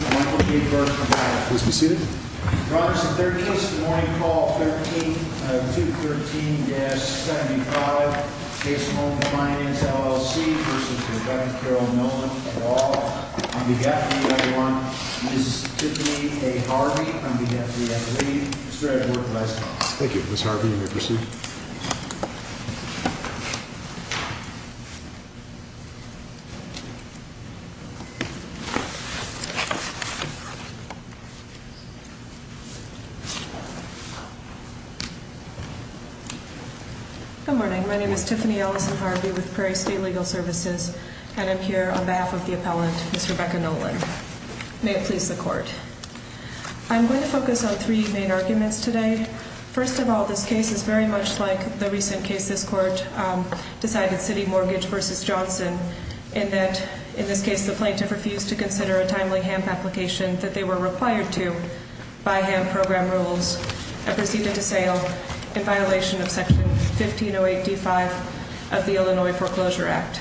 at all. On behalf of the other one, Ms. Tiffany A. Harvey, on behalf of the lead, Mr. Edward Nolan, may it please the court. I'm going to focus on three main arguments today. I'm going to focus on three main arguments today. First of all, this case is very much like the recent case this court decided, City Mortgage v. Johnson, in that, in this case, the plaintiff refused to consider a timely HAMP application that they were required to by HAMP program rules and proceeded to sail in violation of Section 1508d5 of the Illinois Foreclosure Act.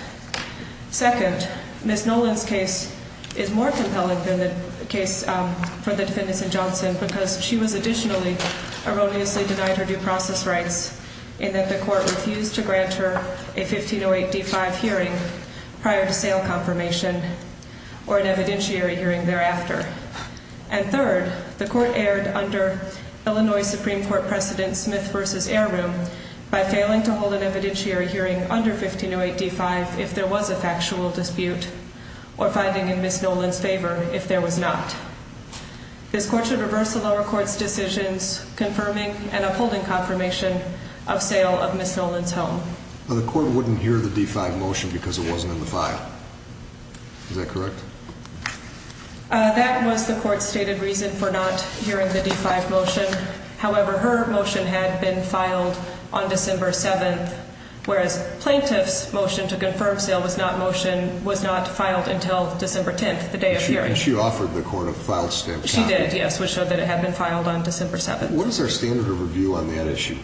Second, Ms. Nolan's case is more compelling than the case for the defendants in Johnson because she was additionally erroneously denied her due process rights in that the court refused to grant her a 1508d5 hearing prior to sail confirmation or an evidentiary hearing thereafter. And third, the court erred under Illinois Supreme Court President Smith v. Airroom by failing to hold an evidentiary hearing under 1508d5 if there was a factual This court should reverse the lower court's decisions confirming and upholding confirmation of sale of Ms. Nolan's home. The court wouldn't hear the D5 motion because it wasn't in the file. Is that correct? That was the court's stated reason for not hearing the D5 motion. However, her motion had been filed on December 7th, whereas plaintiff's motion to confirm She did, yes, which showed that it had been filed on December 7th. What is their standard of review on that issue?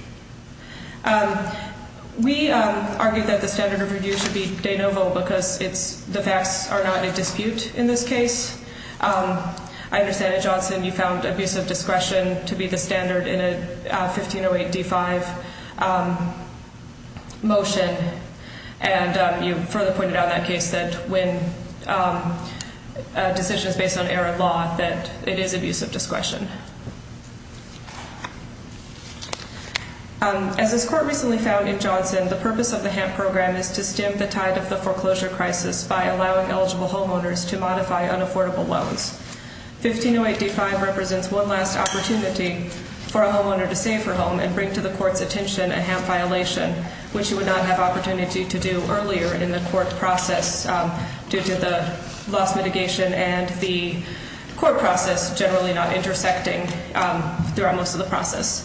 We argue that the standard of review should be de novo because the facts are not in dispute in this case. I understand that, Johnson, you found abusive discretion to be the standard in a 1508d5 motion, and you further pointed out in that case that when a decision is based on error of law, that it is abusive discretion. As this court recently found in Johnson, the purpose of the HAMP program is to stem the tide of the foreclosure crisis by allowing eligible homeowners to modify unaffordable loans. 1508d5 represents one last opportunity for a homeowner to save her home and bring to the court's attention a HAMP violation, which you would not have opportunity to do earlier in the court process due to the loss mitigation and the court process generally not intersecting throughout most of the process.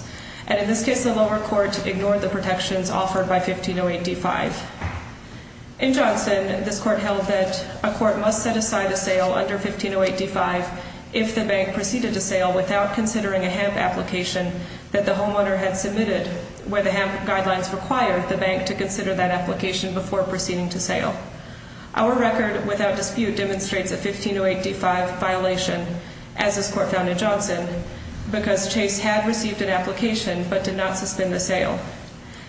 And in this case, the lower court ignored the protections offered by 1508d5. In Johnson, this court held that a court must set aside a sale under 1508d5 if the bank proceeded a sale without considering a HAMP application that the homeowner had submitted where the HAMP guidelines required the bank to consider that application before proceeding to sale. Our record without dispute demonstrates a 1508d5 violation, as this court found in Johnson, because Chase had received an application but did not suspend the sale.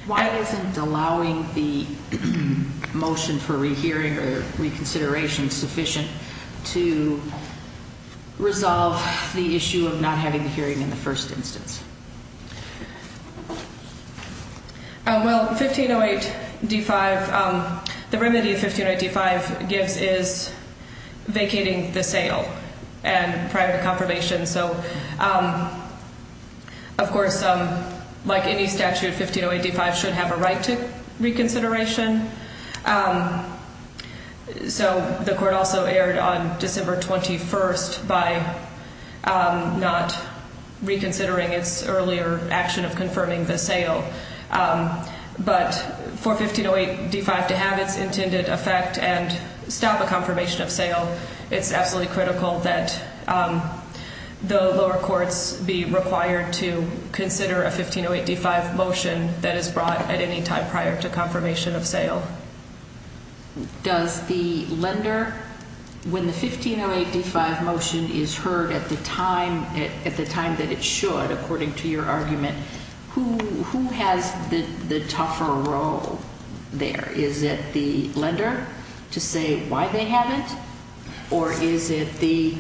Why isn't allowing the motion for rehearing or reconsideration sufficient to resolve the The remedy 1508d5 gives is vacating the sale and prior to confirmation. So, of course, like any statute, 1508d5 should have a right to reconsideration. So the court also erred on December 21st by not reconsidering its earlier action of confirming the sale. But for 1508d5 to have its intended effect and stop a confirmation of sale, it's absolutely critical that the lower courts be required to consider a 1508d5 motion that is brought at any time prior to confirmation of sale. Does the lender, when the 1508d5 motion is heard at the time that it should, according to your argument, who has the tougher role there? Is it the lender to say why they have it? Or is it the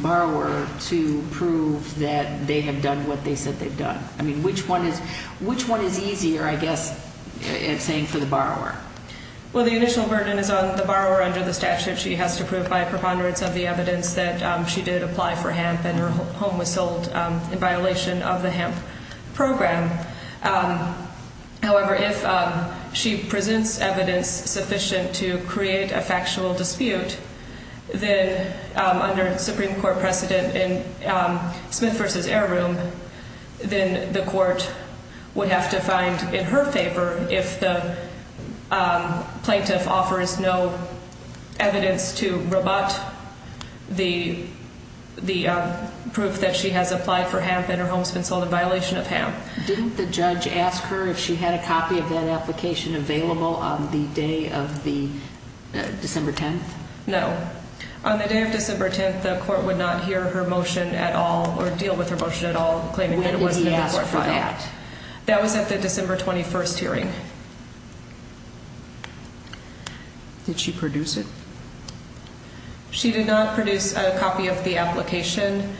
borrower to prove that they have done what they said they've done? I mean, which one is easier, I guess, in saying for the borrower? Well, the initial burden is on the borrower under the statute. She has to prove by preponderance of the evidence that she did apply for HAMP and her home was sold in violation of the HAMP program. However, if she presents evidence sufficient to create a factual dispute, then under Supreme Court precedent in Smith v. Air Room, then the court would have to find in her favor if the plaintiff offers no evidence to rebut the proof that she has applied for HAMP and her home's been sold in violation of HAMP. Didn't the judge ask her if she had a copy of that application available on the day of December 10th? No. On the day of December 10th, the court would not hear her motion at all or deal with her motion at all, claiming that it wasn't in the court file. When did he ask for that? That was at the December 21st hearing. Did she produce it? She did not produce a copy of the application.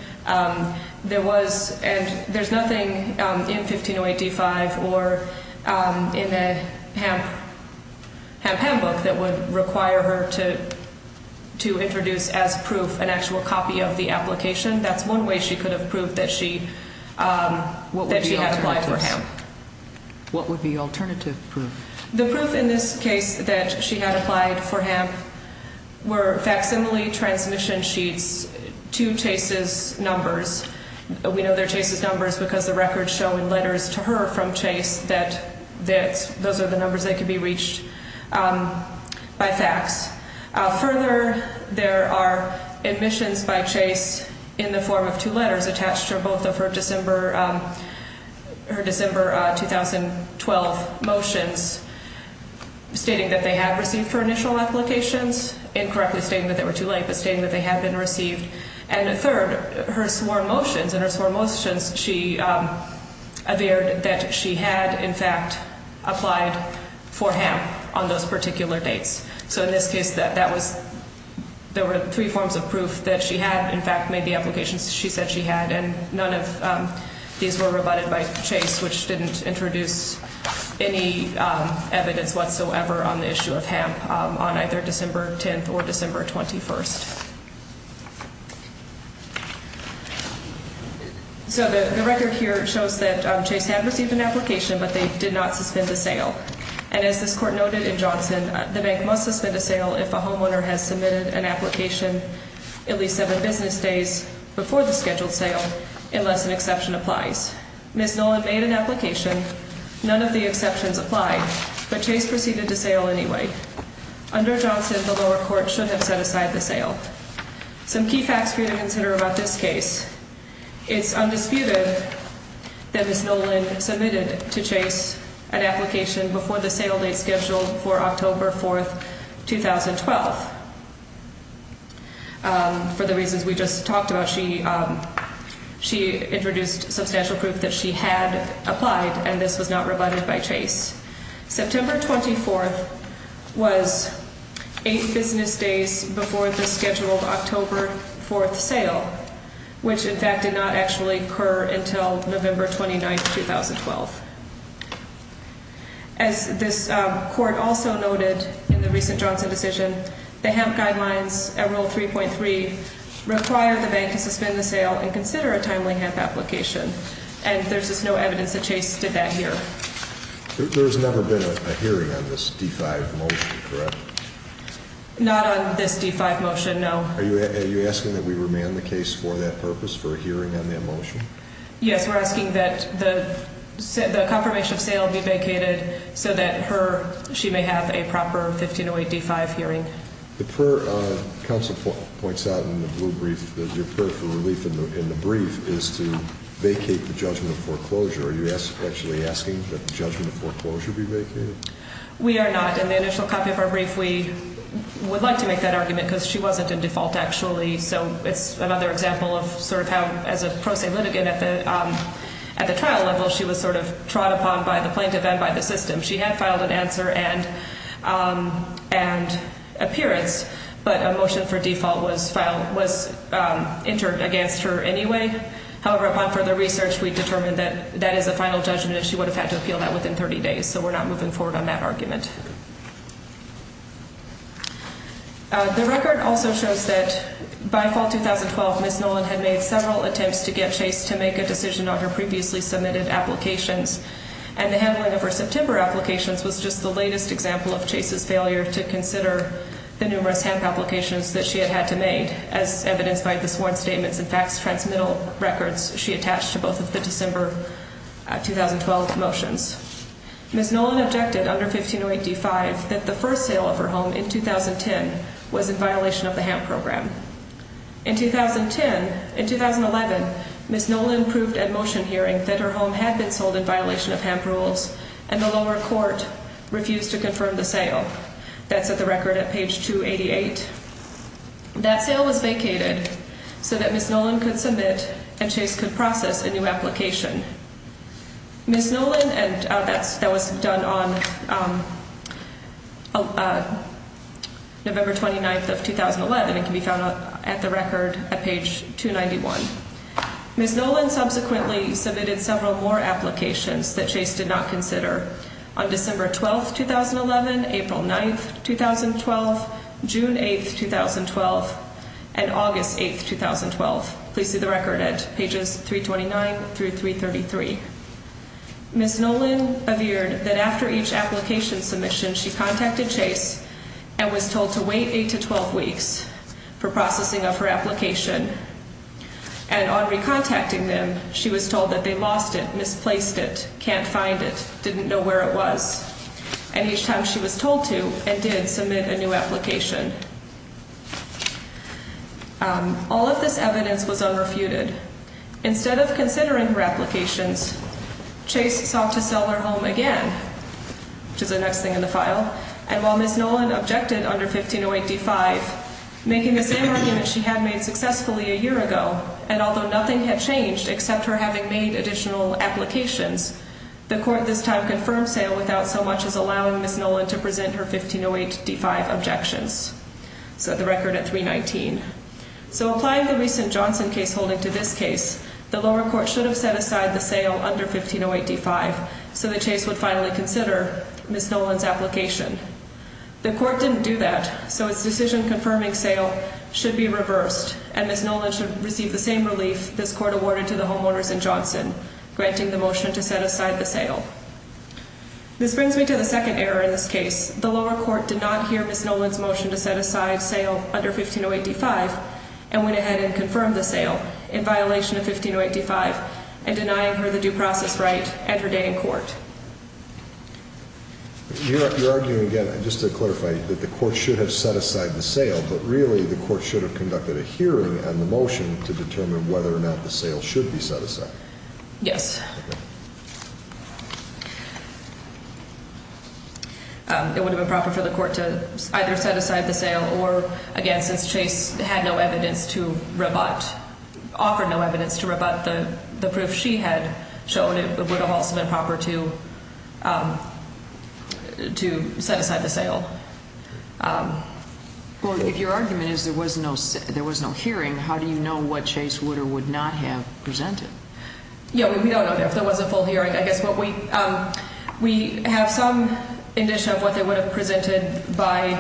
There's nothing in 1508 D-5 or in the HAMP book that would require her to introduce as proof an actual copy of the application. That's one way she could have proved that she had applied for HAMP. What would be alternative proof? The proof in this case that she had applied for HAMP were facsimile transmission sheets to Chase's numbers. We know they're Chase's numbers because the records show in letters to her from Chase that those are the numbers that could be reached by fax. Further, there are admissions by Chase in the form of two letters attached to both of her December 2012 motions stating that they had received her initial applications. Incorrectly stating that they were too late, but stating that they had been received. And third, her sworn motions. In her sworn motions, she averred that she had, in fact, applied for HAMP on those particular dates. So in this case, there were three forms of proof that she had, in fact, made the applications she said she had. And none of these were rebutted by Chase, which didn't introduce any evidence whatsoever on the issue of HAMP on either December 10th or December 21st. So the record here shows that Chase had received an application, but they did not suspend the sale. And as this court noted in Johnson, the bank must suspend a sale if a homeowner has submitted an application at least seven business days before the scheduled sale unless an exception applies. Ms. Nolan made an application. None of the exceptions applied, but Chase proceeded to sale anyway. Under Johnson, the lower court should have set aside the sale. Some key facts for you to consider about this case. It's undisputed that Ms. Nolan submitted to Chase an application before the sale date scheduled for October 4th, 2012. For the reasons we just talked about, she introduced substantial proof that she had applied, and this was not rebutted by Chase. September 24th was eight business days before the scheduled October 4th sale, which, in fact, did not actually occur until November 29th, 2012. As this court also noted in the recent Johnson decision, the HAMP guidelines at Rule 3.3 require the bank to suspend the sale and consider a timely HAMP application, and there's just no evidence that Chase did that here. There's never been a hearing on this D5 motion, correct? Not on this D5 motion, no. Are you asking that we remand the case for that purpose, for a hearing on that motion? Yes, we're asking that the confirmation of sale be vacated so that she may have a proper 1508 D5 hearing. The prayer counsel points out in the blue brief, your prayer for relief in the brief, is to vacate the judgment of foreclosure. Are you actually asking that the judgment of foreclosure be vacated? We are not. In the initial copy of our brief, we would like to make that argument because she wasn't in default, actually, so it's another example of sort of how, as a pro se litigant at the trial level, she was sort of trot upon by the plaintiff and by the system. She had filed an answer and appearance, but a motion for default was filed, was entered against her anyway. However, upon further research, we determined that that is a final judgment and she would have had to appeal that within 30 days, so we're not moving forward on that argument. The record also shows that by fall 2012, Ms. Nolan had made several attempts to get Chase to make a decision on her previously submitted applications, and the handling of her September applications was just the latest example of Chase's failure to consider the numerous hemp applications that she had had to make, as evidenced by the sworn statements and fax transmittal records she attached to both of the December 2012 motions. Ms. Nolan objected under 15085 that the first sale of her home in 2010 was in violation of the hemp program. In 2010, in 2011, Ms. Nolan proved at motion hearing that her home had been sold in violation of hemp rules, and the lower court refused to confirm the sale. That's at the record at page 288. That sale was vacated so that Ms. Nolan could be found at the record at page 291. Ms. Nolan subsequently submitted several more applications that Chase did not consider on December 12, 2011, April 9, 2012, June 8, 2012, and August 8, 2012. Please see the record at pages 329 through 333. Ms. Nolan averred that after each application submission, she contacted Chase and was told to wait 8 to 12 weeks for processing of her application, and on recontacting them, she was told that they lost it, misplaced it, can't find it, didn't know where it was, and each time she was told to and did submit a new application. All of this evidence was unrefuted. Instead of considering her applications, Chase sought to sell her home again, which is the next thing in the file, and while Ms. Nolan objected under 15085, making the same argument she had made successfully a year ago, and although nothing had changed except her having made additional applications, the record at 319. So applying the recent Johnson case holding to this case, the lower court should have set aside the sale under 15085 so that Chase would finally consider Ms. Nolan's application. The court didn't do that, so its decision confirming sale should be reversed, and Ms. Nolan should receive the same relief this court awarded to the homeowners in Johnson, granting the motion to set aside the sale. This brings me to the second error in this case, Ms. Nolan's motion to set aside sale under 15085 and went ahead and confirmed the sale in violation of 15085 and denying her the due process right and her day in court. You're arguing again, just to clarify, that the court should have set aside the sale, but really the court should have conducted a hearing on the motion to determine whether or not the sale should be set aside. Yes. It would have been proper for the court to either set aside the sale or, again, since Chase had no evidence to rebut, offered no evidence to rebut the proof she had shown, it would have also been proper to set aside the sale. Well, if your argument is there was no hearing, how do you know what Chase would or would not have presented? Yeah, we don't know if there was a full hearing. I would have presented by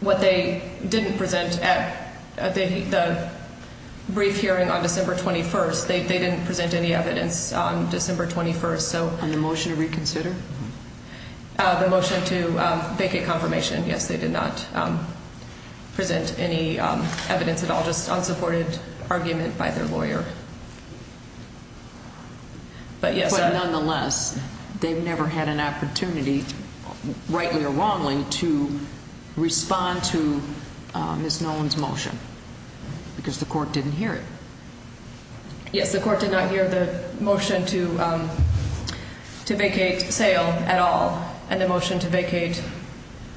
what they didn't present at the brief hearing on December 21st. They didn't present any evidence on December 21st. And the motion to reconsider? The motion to make a confirmation. Yes, they did not present any evidence at all, just unsupported argument by their lawyer. But nonetheless, they've never had an opportunity, rightly or wrongly, to respond to Ms. Nolan's motion because the court didn't hear it. Yes, the court did not hear the motion to vacate sale at all and the motion to vacate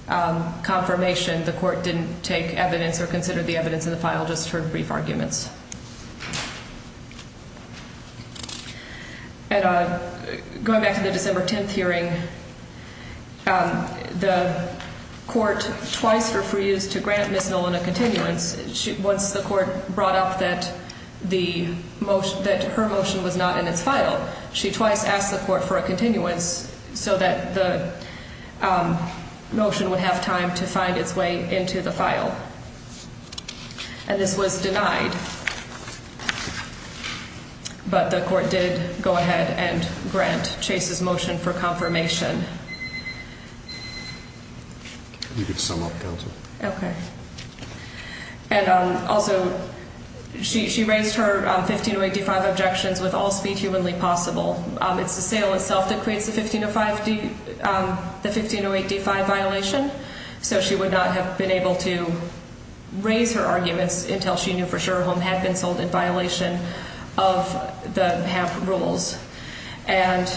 confirmation. The court didn't take evidence or consider the evidence in the file, just her brief arguments. Going back to the December 10th hearing, the court twice refused to grant Ms. Nolan a continuance. Once the court brought up that her motion was not in its file, she twice asked the court for a continuance so that the motion would have time to find its way into the file. And this was denied. But the court did go ahead and grant Chase's motion for confirmation. You can sum up, Counselor. Okay. And also, she raised her 1508 D-5 objections with all speed humanly possible. It's the sale itself that creates the 1508 D-5 violation. So she would not have been able to raise her arguments until she knew for sure her home had been sold in violation of the HAMP rules. And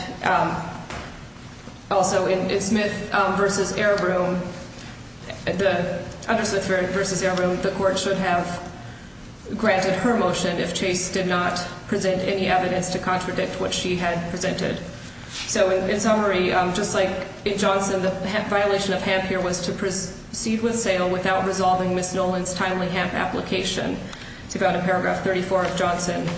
also, in Smith v. Air Room, the court should have granted her motion if Chase did not present any evidence to contradict what she had presented. So, in summary, just like in Johnson, the violation of HAMP here was to proceed with sale without resolving Ms. Nolan's timely HAMP application. It's found in paragraph 34 of Johnson.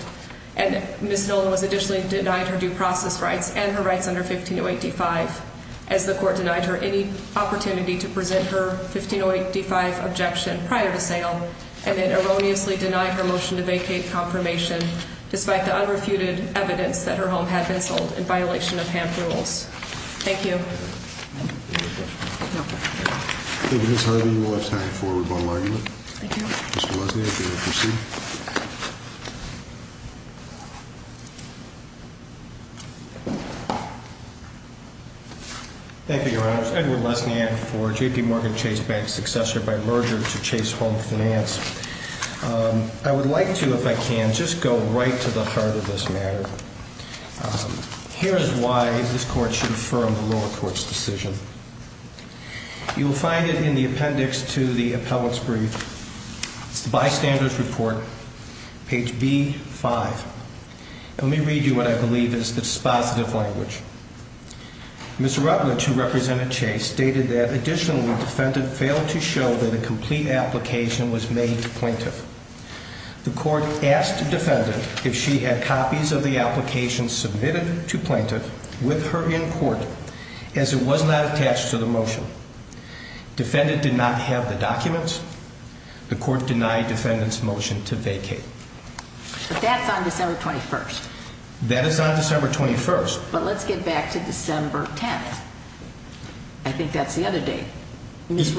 And Ms. Nolan was additionally denied her due process rights and her rights under 1508 D-5 as the court denied her any opportunity to present her 1508 D-5 objection prior to sale and then erroneously denied her motion to vacate confirmation despite the unrefuted evidence that her home had been sold in violation of HAMP rules. Thank you. Thank you, Ms. Harvey. You will have time for rebuttal argument. Thank you. Mr. Lesniak, you may proceed. Thank you, Your Honors. Edward Lesniak for the motion. I asked a defendant if she had copies of the application submitted to plaintiff with her in court as it was not attached to the motion. Defendant did not have the documents. The court denied defendant's motion to vacate. But that's on December 21st. That is on December 21st. But let's get back to December 10th. I think that's the other date. Ms.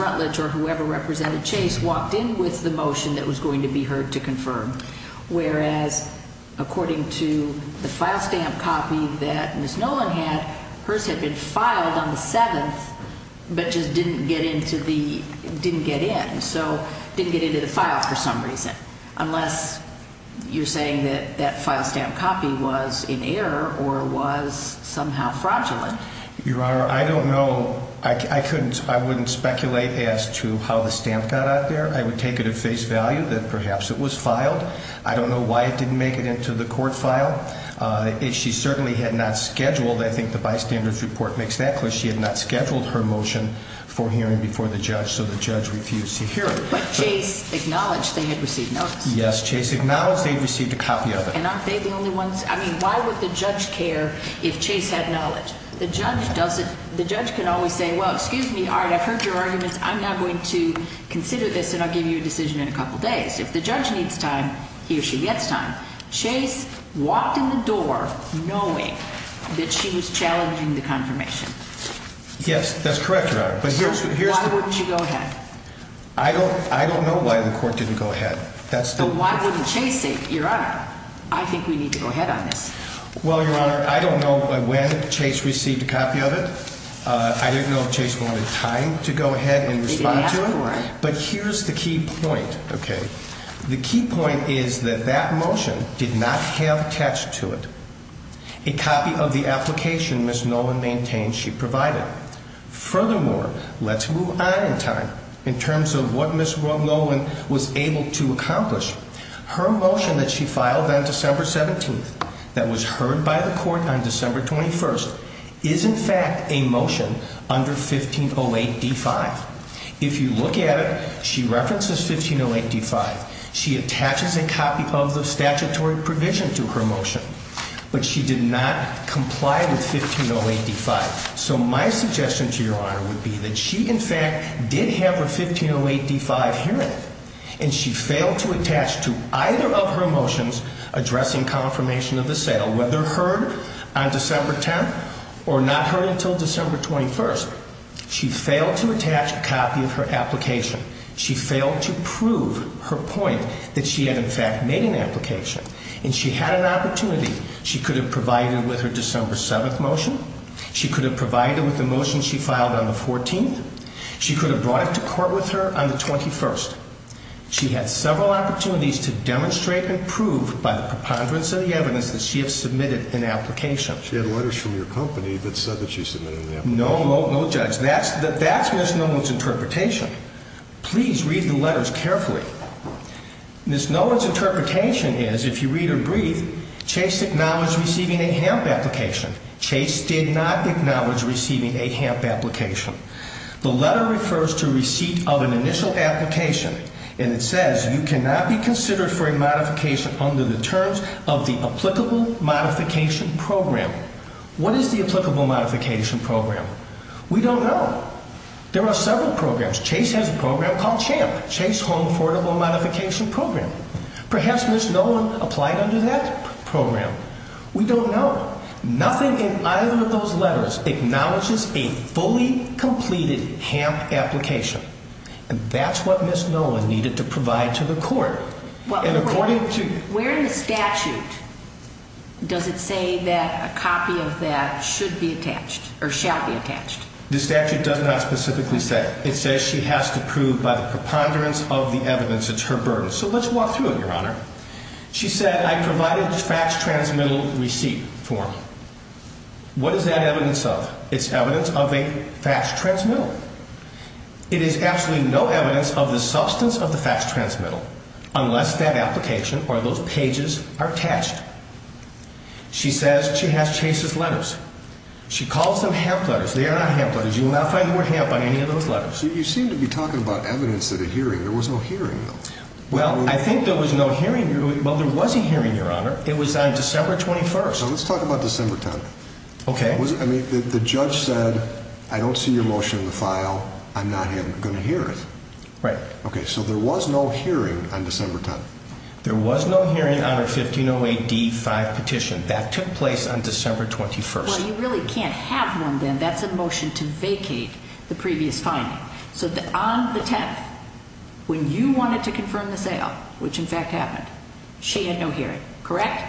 Nolan had hers had been filed on the 7th but just didn't get into the didn't get in. So didn't get into the file for some reason. Unless you're saying that that file stamp copy was in error or was somehow fraudulent. Your Honor, I don't know. I couldn't I wouldn't speculate as to how the stamp got out there. I would take it at face value that perhaps it was filed. I don't know why it didn't make it into the court file. If she certainly had not scheduled, I think the bystander's report makes that clear, she had not scheduled her motion for hearing before the judge. So the judge refused to hear it. But Chase acknowledged they had received notice. Yes, Chase acknowledged they'd received a copy of it. And aren't they the only ones? I mean, why would the judge care if Chase had knowledge? The judge doesn't the judge can always say, well, excuse me, all right, I've heard your arguments. I'm not going to consider this and I'll give you a decision in a couple days. If the judge needs time, he or she gets time. Chase walked in the door knowing that she was challenging the confirmation. Yes, that's correct, Your Honor. But why wouldn't you go ahead? I don't I don't know why the court didn't go ahead. But why wouldn't Chase say, Your Honor, I think we need to go ahead on this. Well, Your Honor, I don't know when Chase received a But here's the key point, okay? The key point is that that motion did not have attached to it. A copy of the application Ms. Nolan maintained she provided. Furthermore, let's move on in time in terms of what Ms. Nolan was able to accomplish. Her motion that she filed on December 17th that was heard by the court on December 21st is in fact a motion under 1508D5. If you look at it, she references 1508D5. She attaches a copy of the statutory provision to her motion, but she did not comply with 1508D5. So my suggestion to Your Honor would be that she in fact did have a 1508D5 here and she failed to attach to either of her motions addressing confirmation of the sale, whether heard on December 10th or not heard until December 21st. She failed to attach a copy of her application. She failed to prove her point that she had in fact made an application. And she had an opportunity. She could have provided with her December 7th motion. She could have provided with the motion she filed on the 14th. She could have brought it to court with her on the 21st. She had several opportunities to demonstrate and prove by the preponderance of the evidence that she has submitted an application. She had letters from your company that said that she submitted an application. No, no judge. That's Ms. Nolan's interpretation. Please read the letters carefully. Ms. Nolan's interpretation is, if you read or breathe, Chase acknowledged receiving a HAMP application. Chase did not acknowledge receiving a HAMP application. The letter refers to receipt of an initial application and it says you cannot be considered for a modification under the terms of the applicable modification program. What is the applicable modification program? We don't know. There are several programs. Chase has a program called CHAMP, Chase Home Affordable Modification Program. Perhaps Ms. Nolan applied under that program. We don't know. Nothing in either of those letters acknowledges a fully completed HAMP application. And that's what Ms. Nolan needed to provide to the court. And according to... Where in the statute does it say that a copy of that should be attached or shall be attached? The statute does not specifically say. It says she has to prove by the preponderance of the evidence. It's her burden. So let's walk through it, Your Honor. She said, I provided a faxed transmittal receipt form. What is that evidence of? It's evidence of a faxed transmittal. It is absolutely no evidence of the substance of the faxed transmittal unless that application or those pages are attached. She says she has Chase's letters. She calls them HAMP letters. They are not HAMP letters. You will not find the word HAMP on any of those letters. You seem to be talking about evidence at a hearing. There was no hearing, though. Well, I think there was no hearing. Well, there was a hearing, Your Honor. It was on December 21st. So let's talk about December 10th. Okay. I mean, the judge said, I don't see your motion in the file. I'm not going to hear it. Right. Okay. So there was no hearing on December 10th. There was no hearing on her 1508D-5 petition. That took place on December 21st. Well, you really can't have one then. That's a motion to vacate the previous finding. So on the 10th, when you wanted to confirm the sale, which in fact happened, she had no hearing, correct?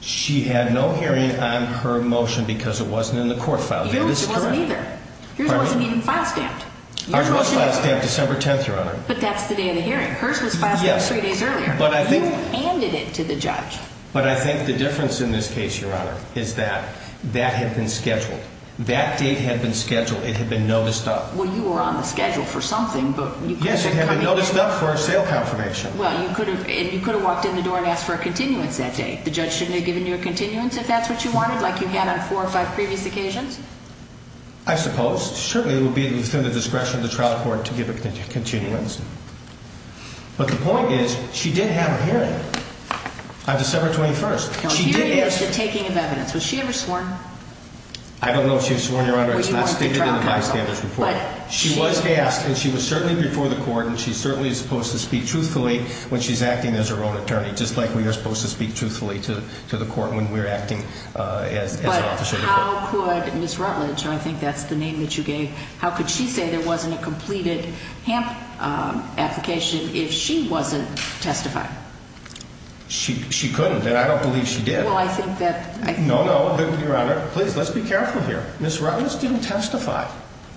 She had no hearing on her motion because it wasn't in the court file. Yours wasn't either. Yours was filed on December 10th, Your Honor. But that's the day of the hearing. Hers was filed three days earlier. You handed it to the judge. But I think the difference in this case, Your Honor, is that that had been scheduled. That date had been scheduled. It had been noticed up. Well, you were on the schedule for something. Yes, it had been noticed up for a sale confirmation. Well, you could have walked in the door and asked for a continuance that date. The judge shouldn't have given you a continuance if that's what you wanted, like you had on four or five previous occasions? I suppose. Certainly, it would be within the law court to give a continuance. But the point is, she did have a hearing on December 21st. Now, hearing is the taking of evidence. Was she ever sworn? I don't know if she was sworn, Your Honor. It's not stated in the bystander's report. She was asked, and she was certainly before the court, and she certainly is supposed to speak truthfully when she's acting as her own attorney, just like we are supposed to speak truthfully to the court when we're acting as an officer of the court. But how could Ms. Rutledge, I think that's the name that you gave, how could she say there wasn't a completed HAMP application if she wasn't testifying? She couldn't, and I don't believe she did. Well, I think that No, no, Your Honor. Please, let's be careful here. Ms. Rutledge didn't testify.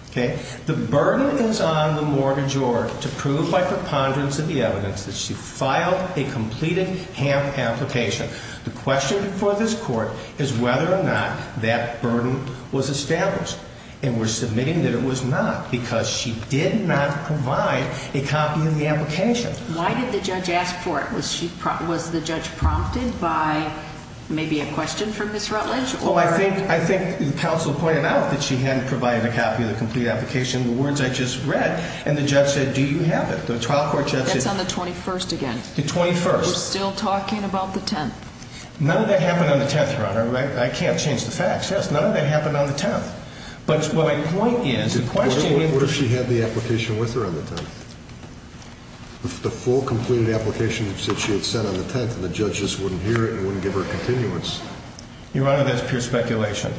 Okay? The burden is on the mortgagor to prove by preponderance of the evidence that she filed a completed HAMP application. The question for this court is whether or not that burden was established. And we're submitting that it was not, because she did not provide a copy of the application. Why did the judge ask for it? Was the judge prompted by maybe a question from Ms. Rutledge? Well, I think the counsel pointed out that she hadn't provided a copy of the complete application, the words I just read, and the judge said, do you have it? The trial court judge said... That's on the 21st again. The 21st. We're still talking about the 10th. None of that happened on the 10th, Your Honor. I can't change the facts. Yes, none of that happened on the 10th. But my point is... What if she had the application with her on the 10th? The full completed application that she had sent on the 10th and the judges wouldn't hear it and wouldn't give her a continuance? Your Honor, that's pure speculation.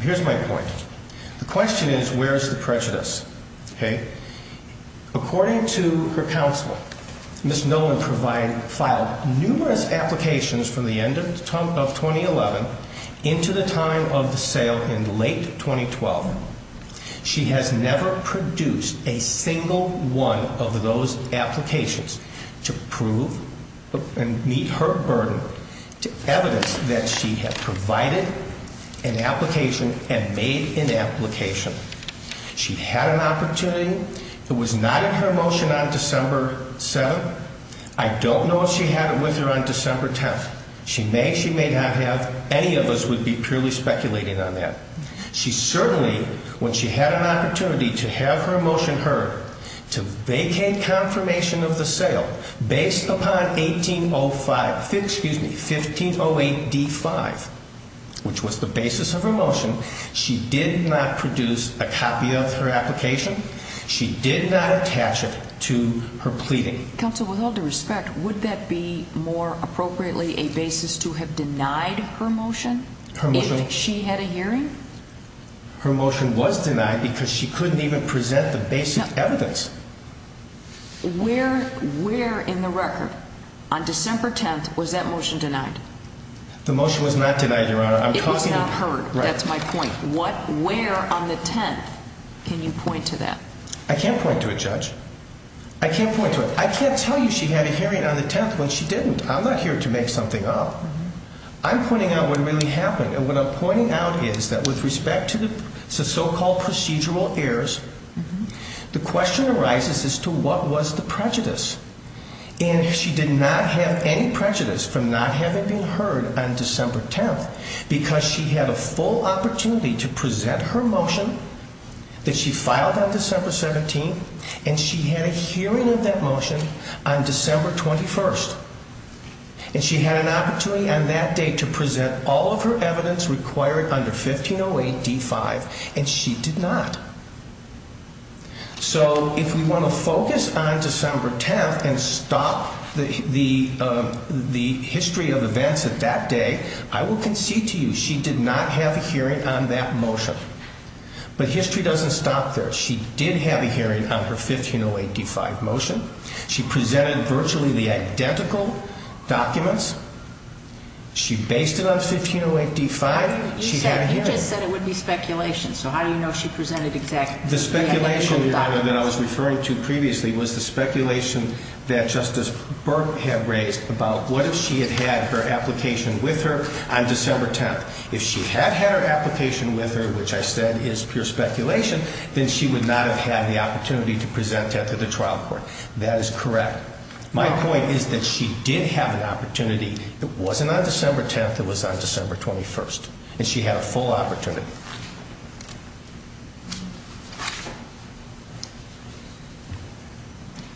Here's my point. The question is, where's the prejudice? Okay? According to her counsel, Ms. Nolan filed numerous applications from the end of 2011 into the time of the sale in late 2012. She has never produced a single one of those applications to prove and meet her burden to evidence that she had provided an application and made an application. She had an opportunity. It was not in her motion on December 7th. I don't know if she had it with her on December 10th. She may, she may not have. Any of us would be purely speculating on that. She certainly, when she had an opportunity to have her motion heard, to vacate confirmation of the sale based upon 1805, excuse me, 1508D5, which was the basis of her motion, she did not produce a copy of her application. She did not attach it to her pleading. Counsel, with all due respect, would that be more appropriately a basis to have denied her motion if she had a hearing? Her motion was denied because she couldn't even present the basic evidence. Where, where in the record on December 10th was that motion denied? The motion was not denied. On December 10th, can you point to that? I can't point to it, Judge. I can't point to it. I can't tell you she had a hearing on the 10th when she didn't. I'm not here to make something up. I'm pointing out what really happened. And what I'm pointing out is that with respect to the so-called procedural errors, the question arises as to what was the prejudice. And she did not have any prejudice from not having been heard on December 10th because she had a full opportunity to present her motion that she filed on December 17th and she had a hearing of that motion on December 21st. And she had an opportunity on that day to present all of her evidence required under 1508D5 and she did not. So if we want to focus on December 10th and stop the, the, the history of events at that day, I will concede to you she did not have a hearing on that motion. But history doesn't stop there. She did have a hearing on her 1508D5 motion. She presented virtually the identical documents. She based it on 1508D5. You said, you just said it would be speculation. So how do you know she presented The speculation, Your Honor, that I was referring to previously was the speculation that Justice Burke had raised about what if she had had her application with her on December 10th. If she had had her application with her, which I said is pure speculation, then she would not have had the opportunity to present that to the trial court. That is correct. My point is that she did have an opportunity that wasn't on December 10th. It was on December 21st and she had a full opportunity.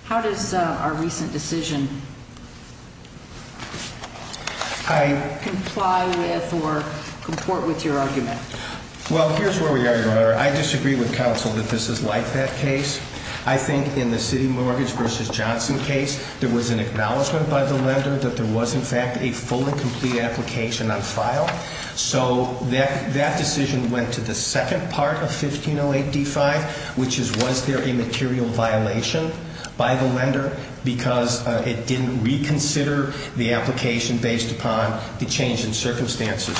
How does our recent decision comply with or comport with your argument? Well, here's where we are, Your Honor. I disagree with counsel that this is like that case. I think in the case of 1508D5, there was in fact a full and complete application on file. So that decision went to the second part of 1508D5, which is was there a material violation by the lender because it didn't reconsider the application based upon the change in circumstances.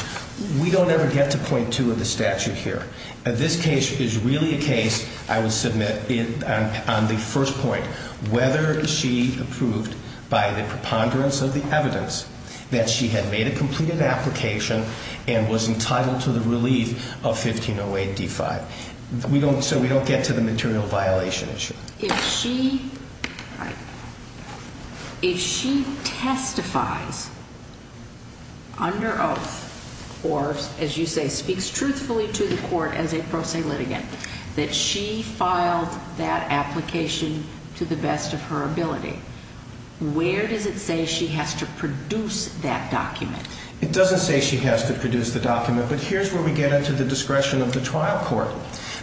We don't ever get to point two of the statute here. This case is really a case, I will submit, on the first point, whether she approved by the preponderance of the evidence that she had made a completed application and was entitled to the relief of 1508D5. So we don't get to the material violation issue. If she testifies under oath or, as you say, speaks truthfully to the court as a pro se litigant, that she filed that application to the best of her ability, where does it say she has to produce that document? It doesn't say she has to produce the document, but here's where we get into the discretion of the trial court.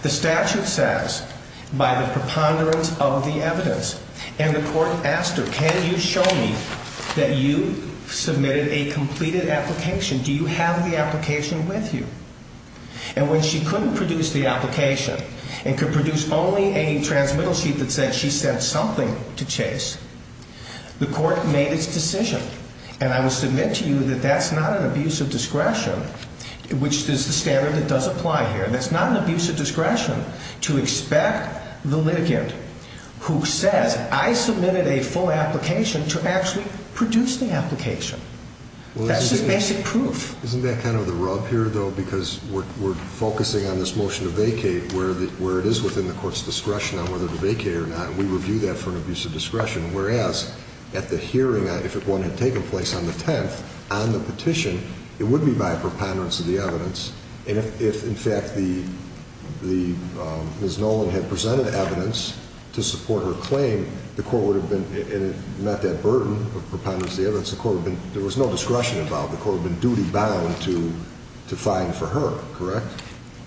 The statute says, by the preponderance of the evidence, and the court asked her, can you show me that you submitted a transmittal sheet that said she sent something to Chase? The court made its decision, and I will submit to you that that's not an abuse of discretion, which is the standard that does apply here. That's not an abuse of discretion to expect the litigant who says, I submitted a full application, to actually produce the application. That's just basic proof. Isn't that kind of the rub here, though, because we're focusing on this motion to vacate, where it is within the court's discretion on whether to vacate or not, and we review that for an abuse of discretion, whereas at the hearing, if one had taken place on the 10th, on the petition, it would be by preponderance of the evidence, and if, in fact, the Ms. Nolan had presented evidence to support her claim, the court would have been, and not that burden of preponderance of the evidence would have been too profound to find for her, correct?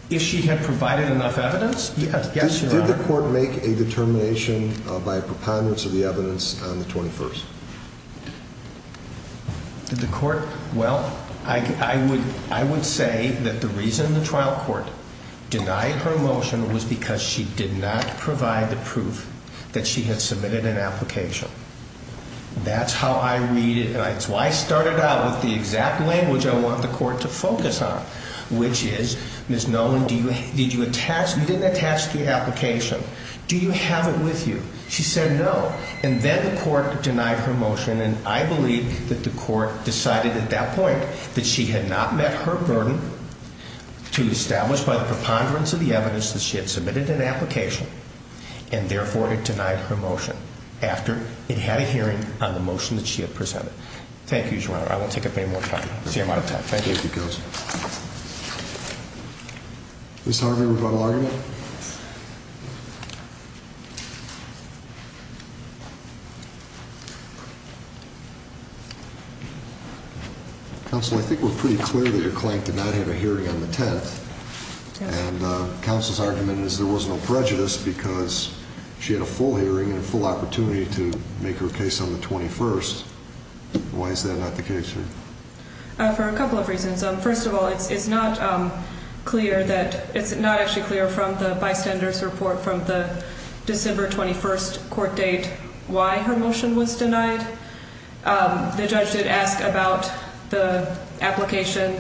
If she had provided enough evidence? Yes, Your Honor. Did the court make a determination by preponderance of the evidence on the 21st? Did the court? Well, I would say that the reason the trial court denied her motion was because she did not provide the proof that she had submitted an application. That's how I read it, and that's why I started out with the exact language I want the court to focus on, which is, Ms. Nolan, did you attach, you didn't attach the application. Do you have it with you? She said no, and then the court denied her motion, and I believe that the court decided at that point that she had not met her burden to establish by the preponderance of the evidence that she had submitted an application, and therefore, it denied her motion after it had a hearing on the motion that she had submitted. Thank you, Your Honor. I won't take up any more time. I see I'm out of time. Thank you. Ms. Harvey, would you like to argue? Counsel, I think we're pretty clear that your client did not have a hearing on the 10th, and counsel's argument is there was no prejudice because she had a full hearing and a full opportunity to make her case on the 21st. Why is that not the case here? For a couple of reasons. First of all, it's not clear that, it's not actually clear from the bystander's report from the December 21st court date why her motion was denied. The judge did ask about the application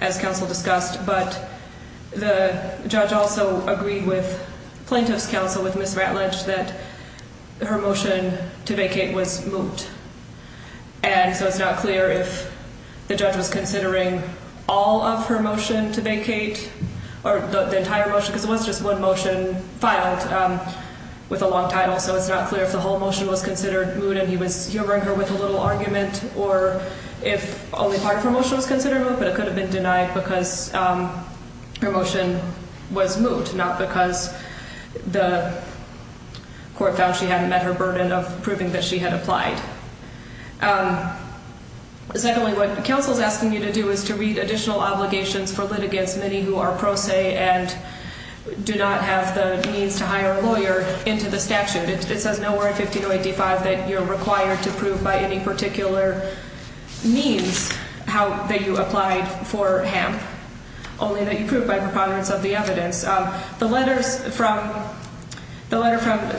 as counsel discussed, but the judge also agreed with plaintiff's counsel, with Ms. Ratledge, that her motion to vacate was moot. And so it's not clear if the judge was considering all of her motion to vacate, or the entire motion, because it was just one motion filed with a long title, so it's not clear if the whole motion was considered moot and he was humoring her with a little argument, or if only part of her motion was considered moot, but it could have been denied because her motion was moot, not because the court found she hadn't met her burden of proving that she had applied. Secondly, what counsel's asking you to do is to read additional obligations for litigants, many who are pro se and do not have the means to hire a lawyer into the statute. It says nowhere in 15085 that you're required to prove by any particular means that you applied for HAMP, only that you prove by preponderance of the evidence. The letter from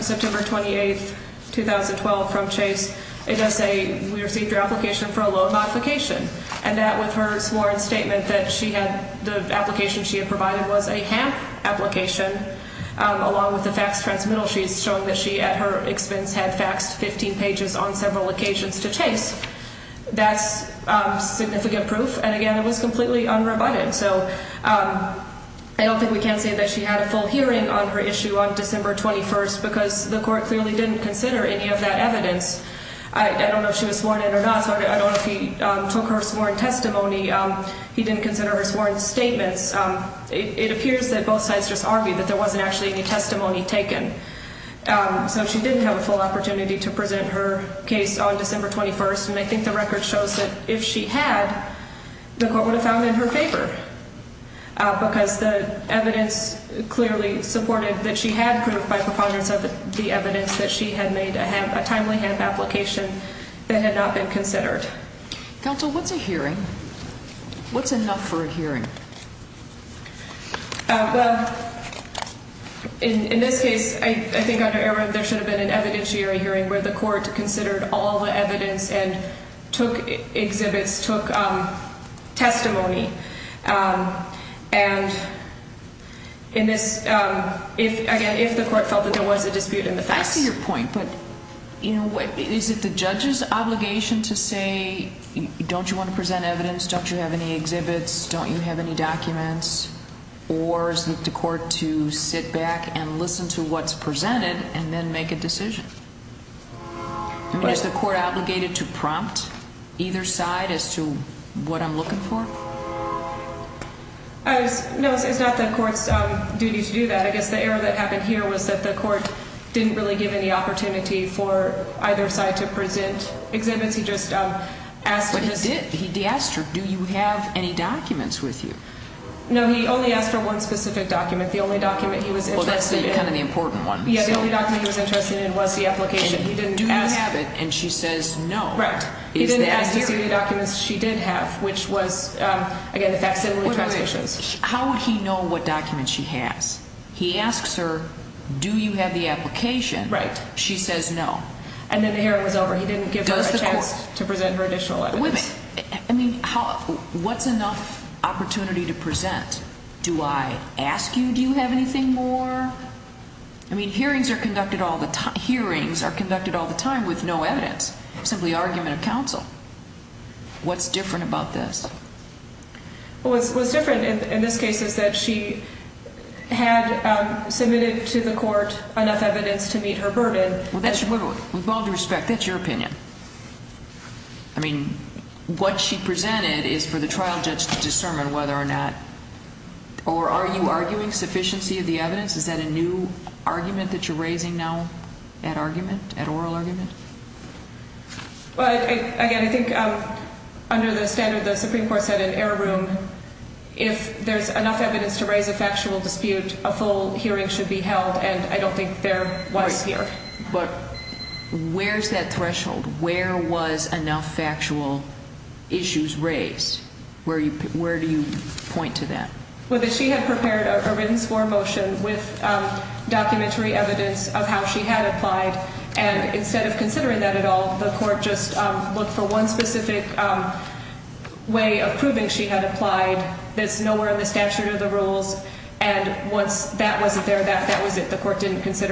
September 28th, 2012 from Chase, it does say we received your application for a loan modification, and that with her sworn statement that she had, the application she had provided was a HAMP application, along with the faxed transmittal sheets showing that she, at her expense, had faxed 15 pages on several occasions to Chase. That's significant proof, and again, it was completely unrebutted, so I don't think we can say that she had a full hearing on her issue on December 21st, because the court clearly didn't consider any of that service warrant statements. It appears that both sides just argued that there wasn't actually any testimony taken. So she didn't have a full opportunity to present her case on December 21st, and I think the record shows that if she had, the court would have found it in her favor, because the evidence clearly supported that she had proved by preponderance of the evidence that she had made a HAMP, a timely hearing. Well, in this case, I think there should have been an evidentiary hearing where the court considered all the evidence and took exhibits, took testimony, and in this, again, if the court felt that there was a dispute in the fax. I see your point, but is it the judge's obligation to say, don't you want to present evidence, don't you have any exhibits, don't you have any documents, or is it the court to sit back and listen to what's presented and then make a decision? Is the court obligated to prompt either side as to what I'm looking for? No, it's not the court's duty to do that. I guess the error that happened here was that the court didn't really give any opportunity for either side to present exhibits. He just asked. But he did. He asked her, do you have any documents with you? No, he only asked for one specific document. The only document he was interested in. Well, that's kind of the important one. Yeah, the only document he was interested in was the application. Do you have it? And she says no. Right. He didn't ask to see any documents she did have, which was again, the fax and the transcriptions. How would he know what documents she has? He asks her do you have the application? Right. She says no. And then the hearing was over. He didn't give her a chance to present her additional evidence. I mean, what's enough opportunity to present? Do I ask you, do you have anything more? I mean, hearings are conducted all the time. Hearings are conducted all the time with no evidence. Simply argument of counsel. What's different about this? What's different in this case is that she had submitted to the court enough evidence to meet her burden. With all due respect, that's your opinion. I mean, what she presented is for the trial judge to discern whether or not or are you arguing sufficiency of the evidence? Is that a new argument that you're raising now at argument, at oral argument? Well, again, I think under the standard the Supreme Court said in error room, if there's enough evidence to raise a factual dispute, a full I think there was here. But where's that threshold? Where was enough factual issues raised? Where do you point to that? Well, that she had prepared a written sworn motion with documentary evidence of how she had applied. And instead of considering that at all, the court just looked for one specific way of proving she had considered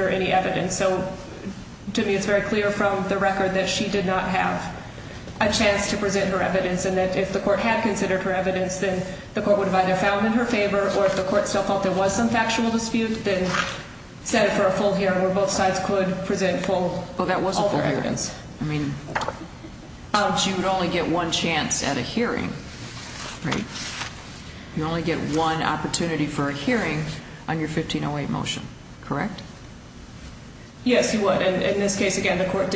any evidence. So to me, it's very clear from the record that she did not have a chance to present her evidence. And that if the court had considered her evidence, then the court would have either found in her favor or if the court still thought there was some factual dispute, then set it for a full hearing where both sides could present full evidence. She would only get one chance at a hearing. You only get one opportunity for a hearing on your 1508 motion, correct? Yes, you would. And in this case, again, the court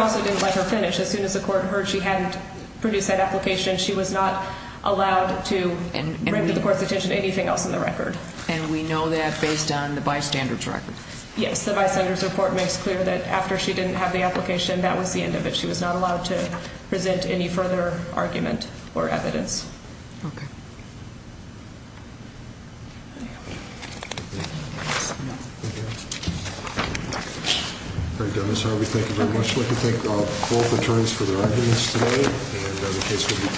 also didn't let her finish. As soon as the court heard she hadn't produced that application, she was not allowed to bring to the court's attention anything else in the record. And we know that based on the bystander's record? Yes, the bystander's report makes clear that after she didn't have the application, that was the end of it. She was not allowed to present any further argument or evidence. Okay. Very good. Ms. Harvey, thank you very much. I'd like to thank both attorneys for their arguments today. And the case will be taken under advisement. We'll take a short recess.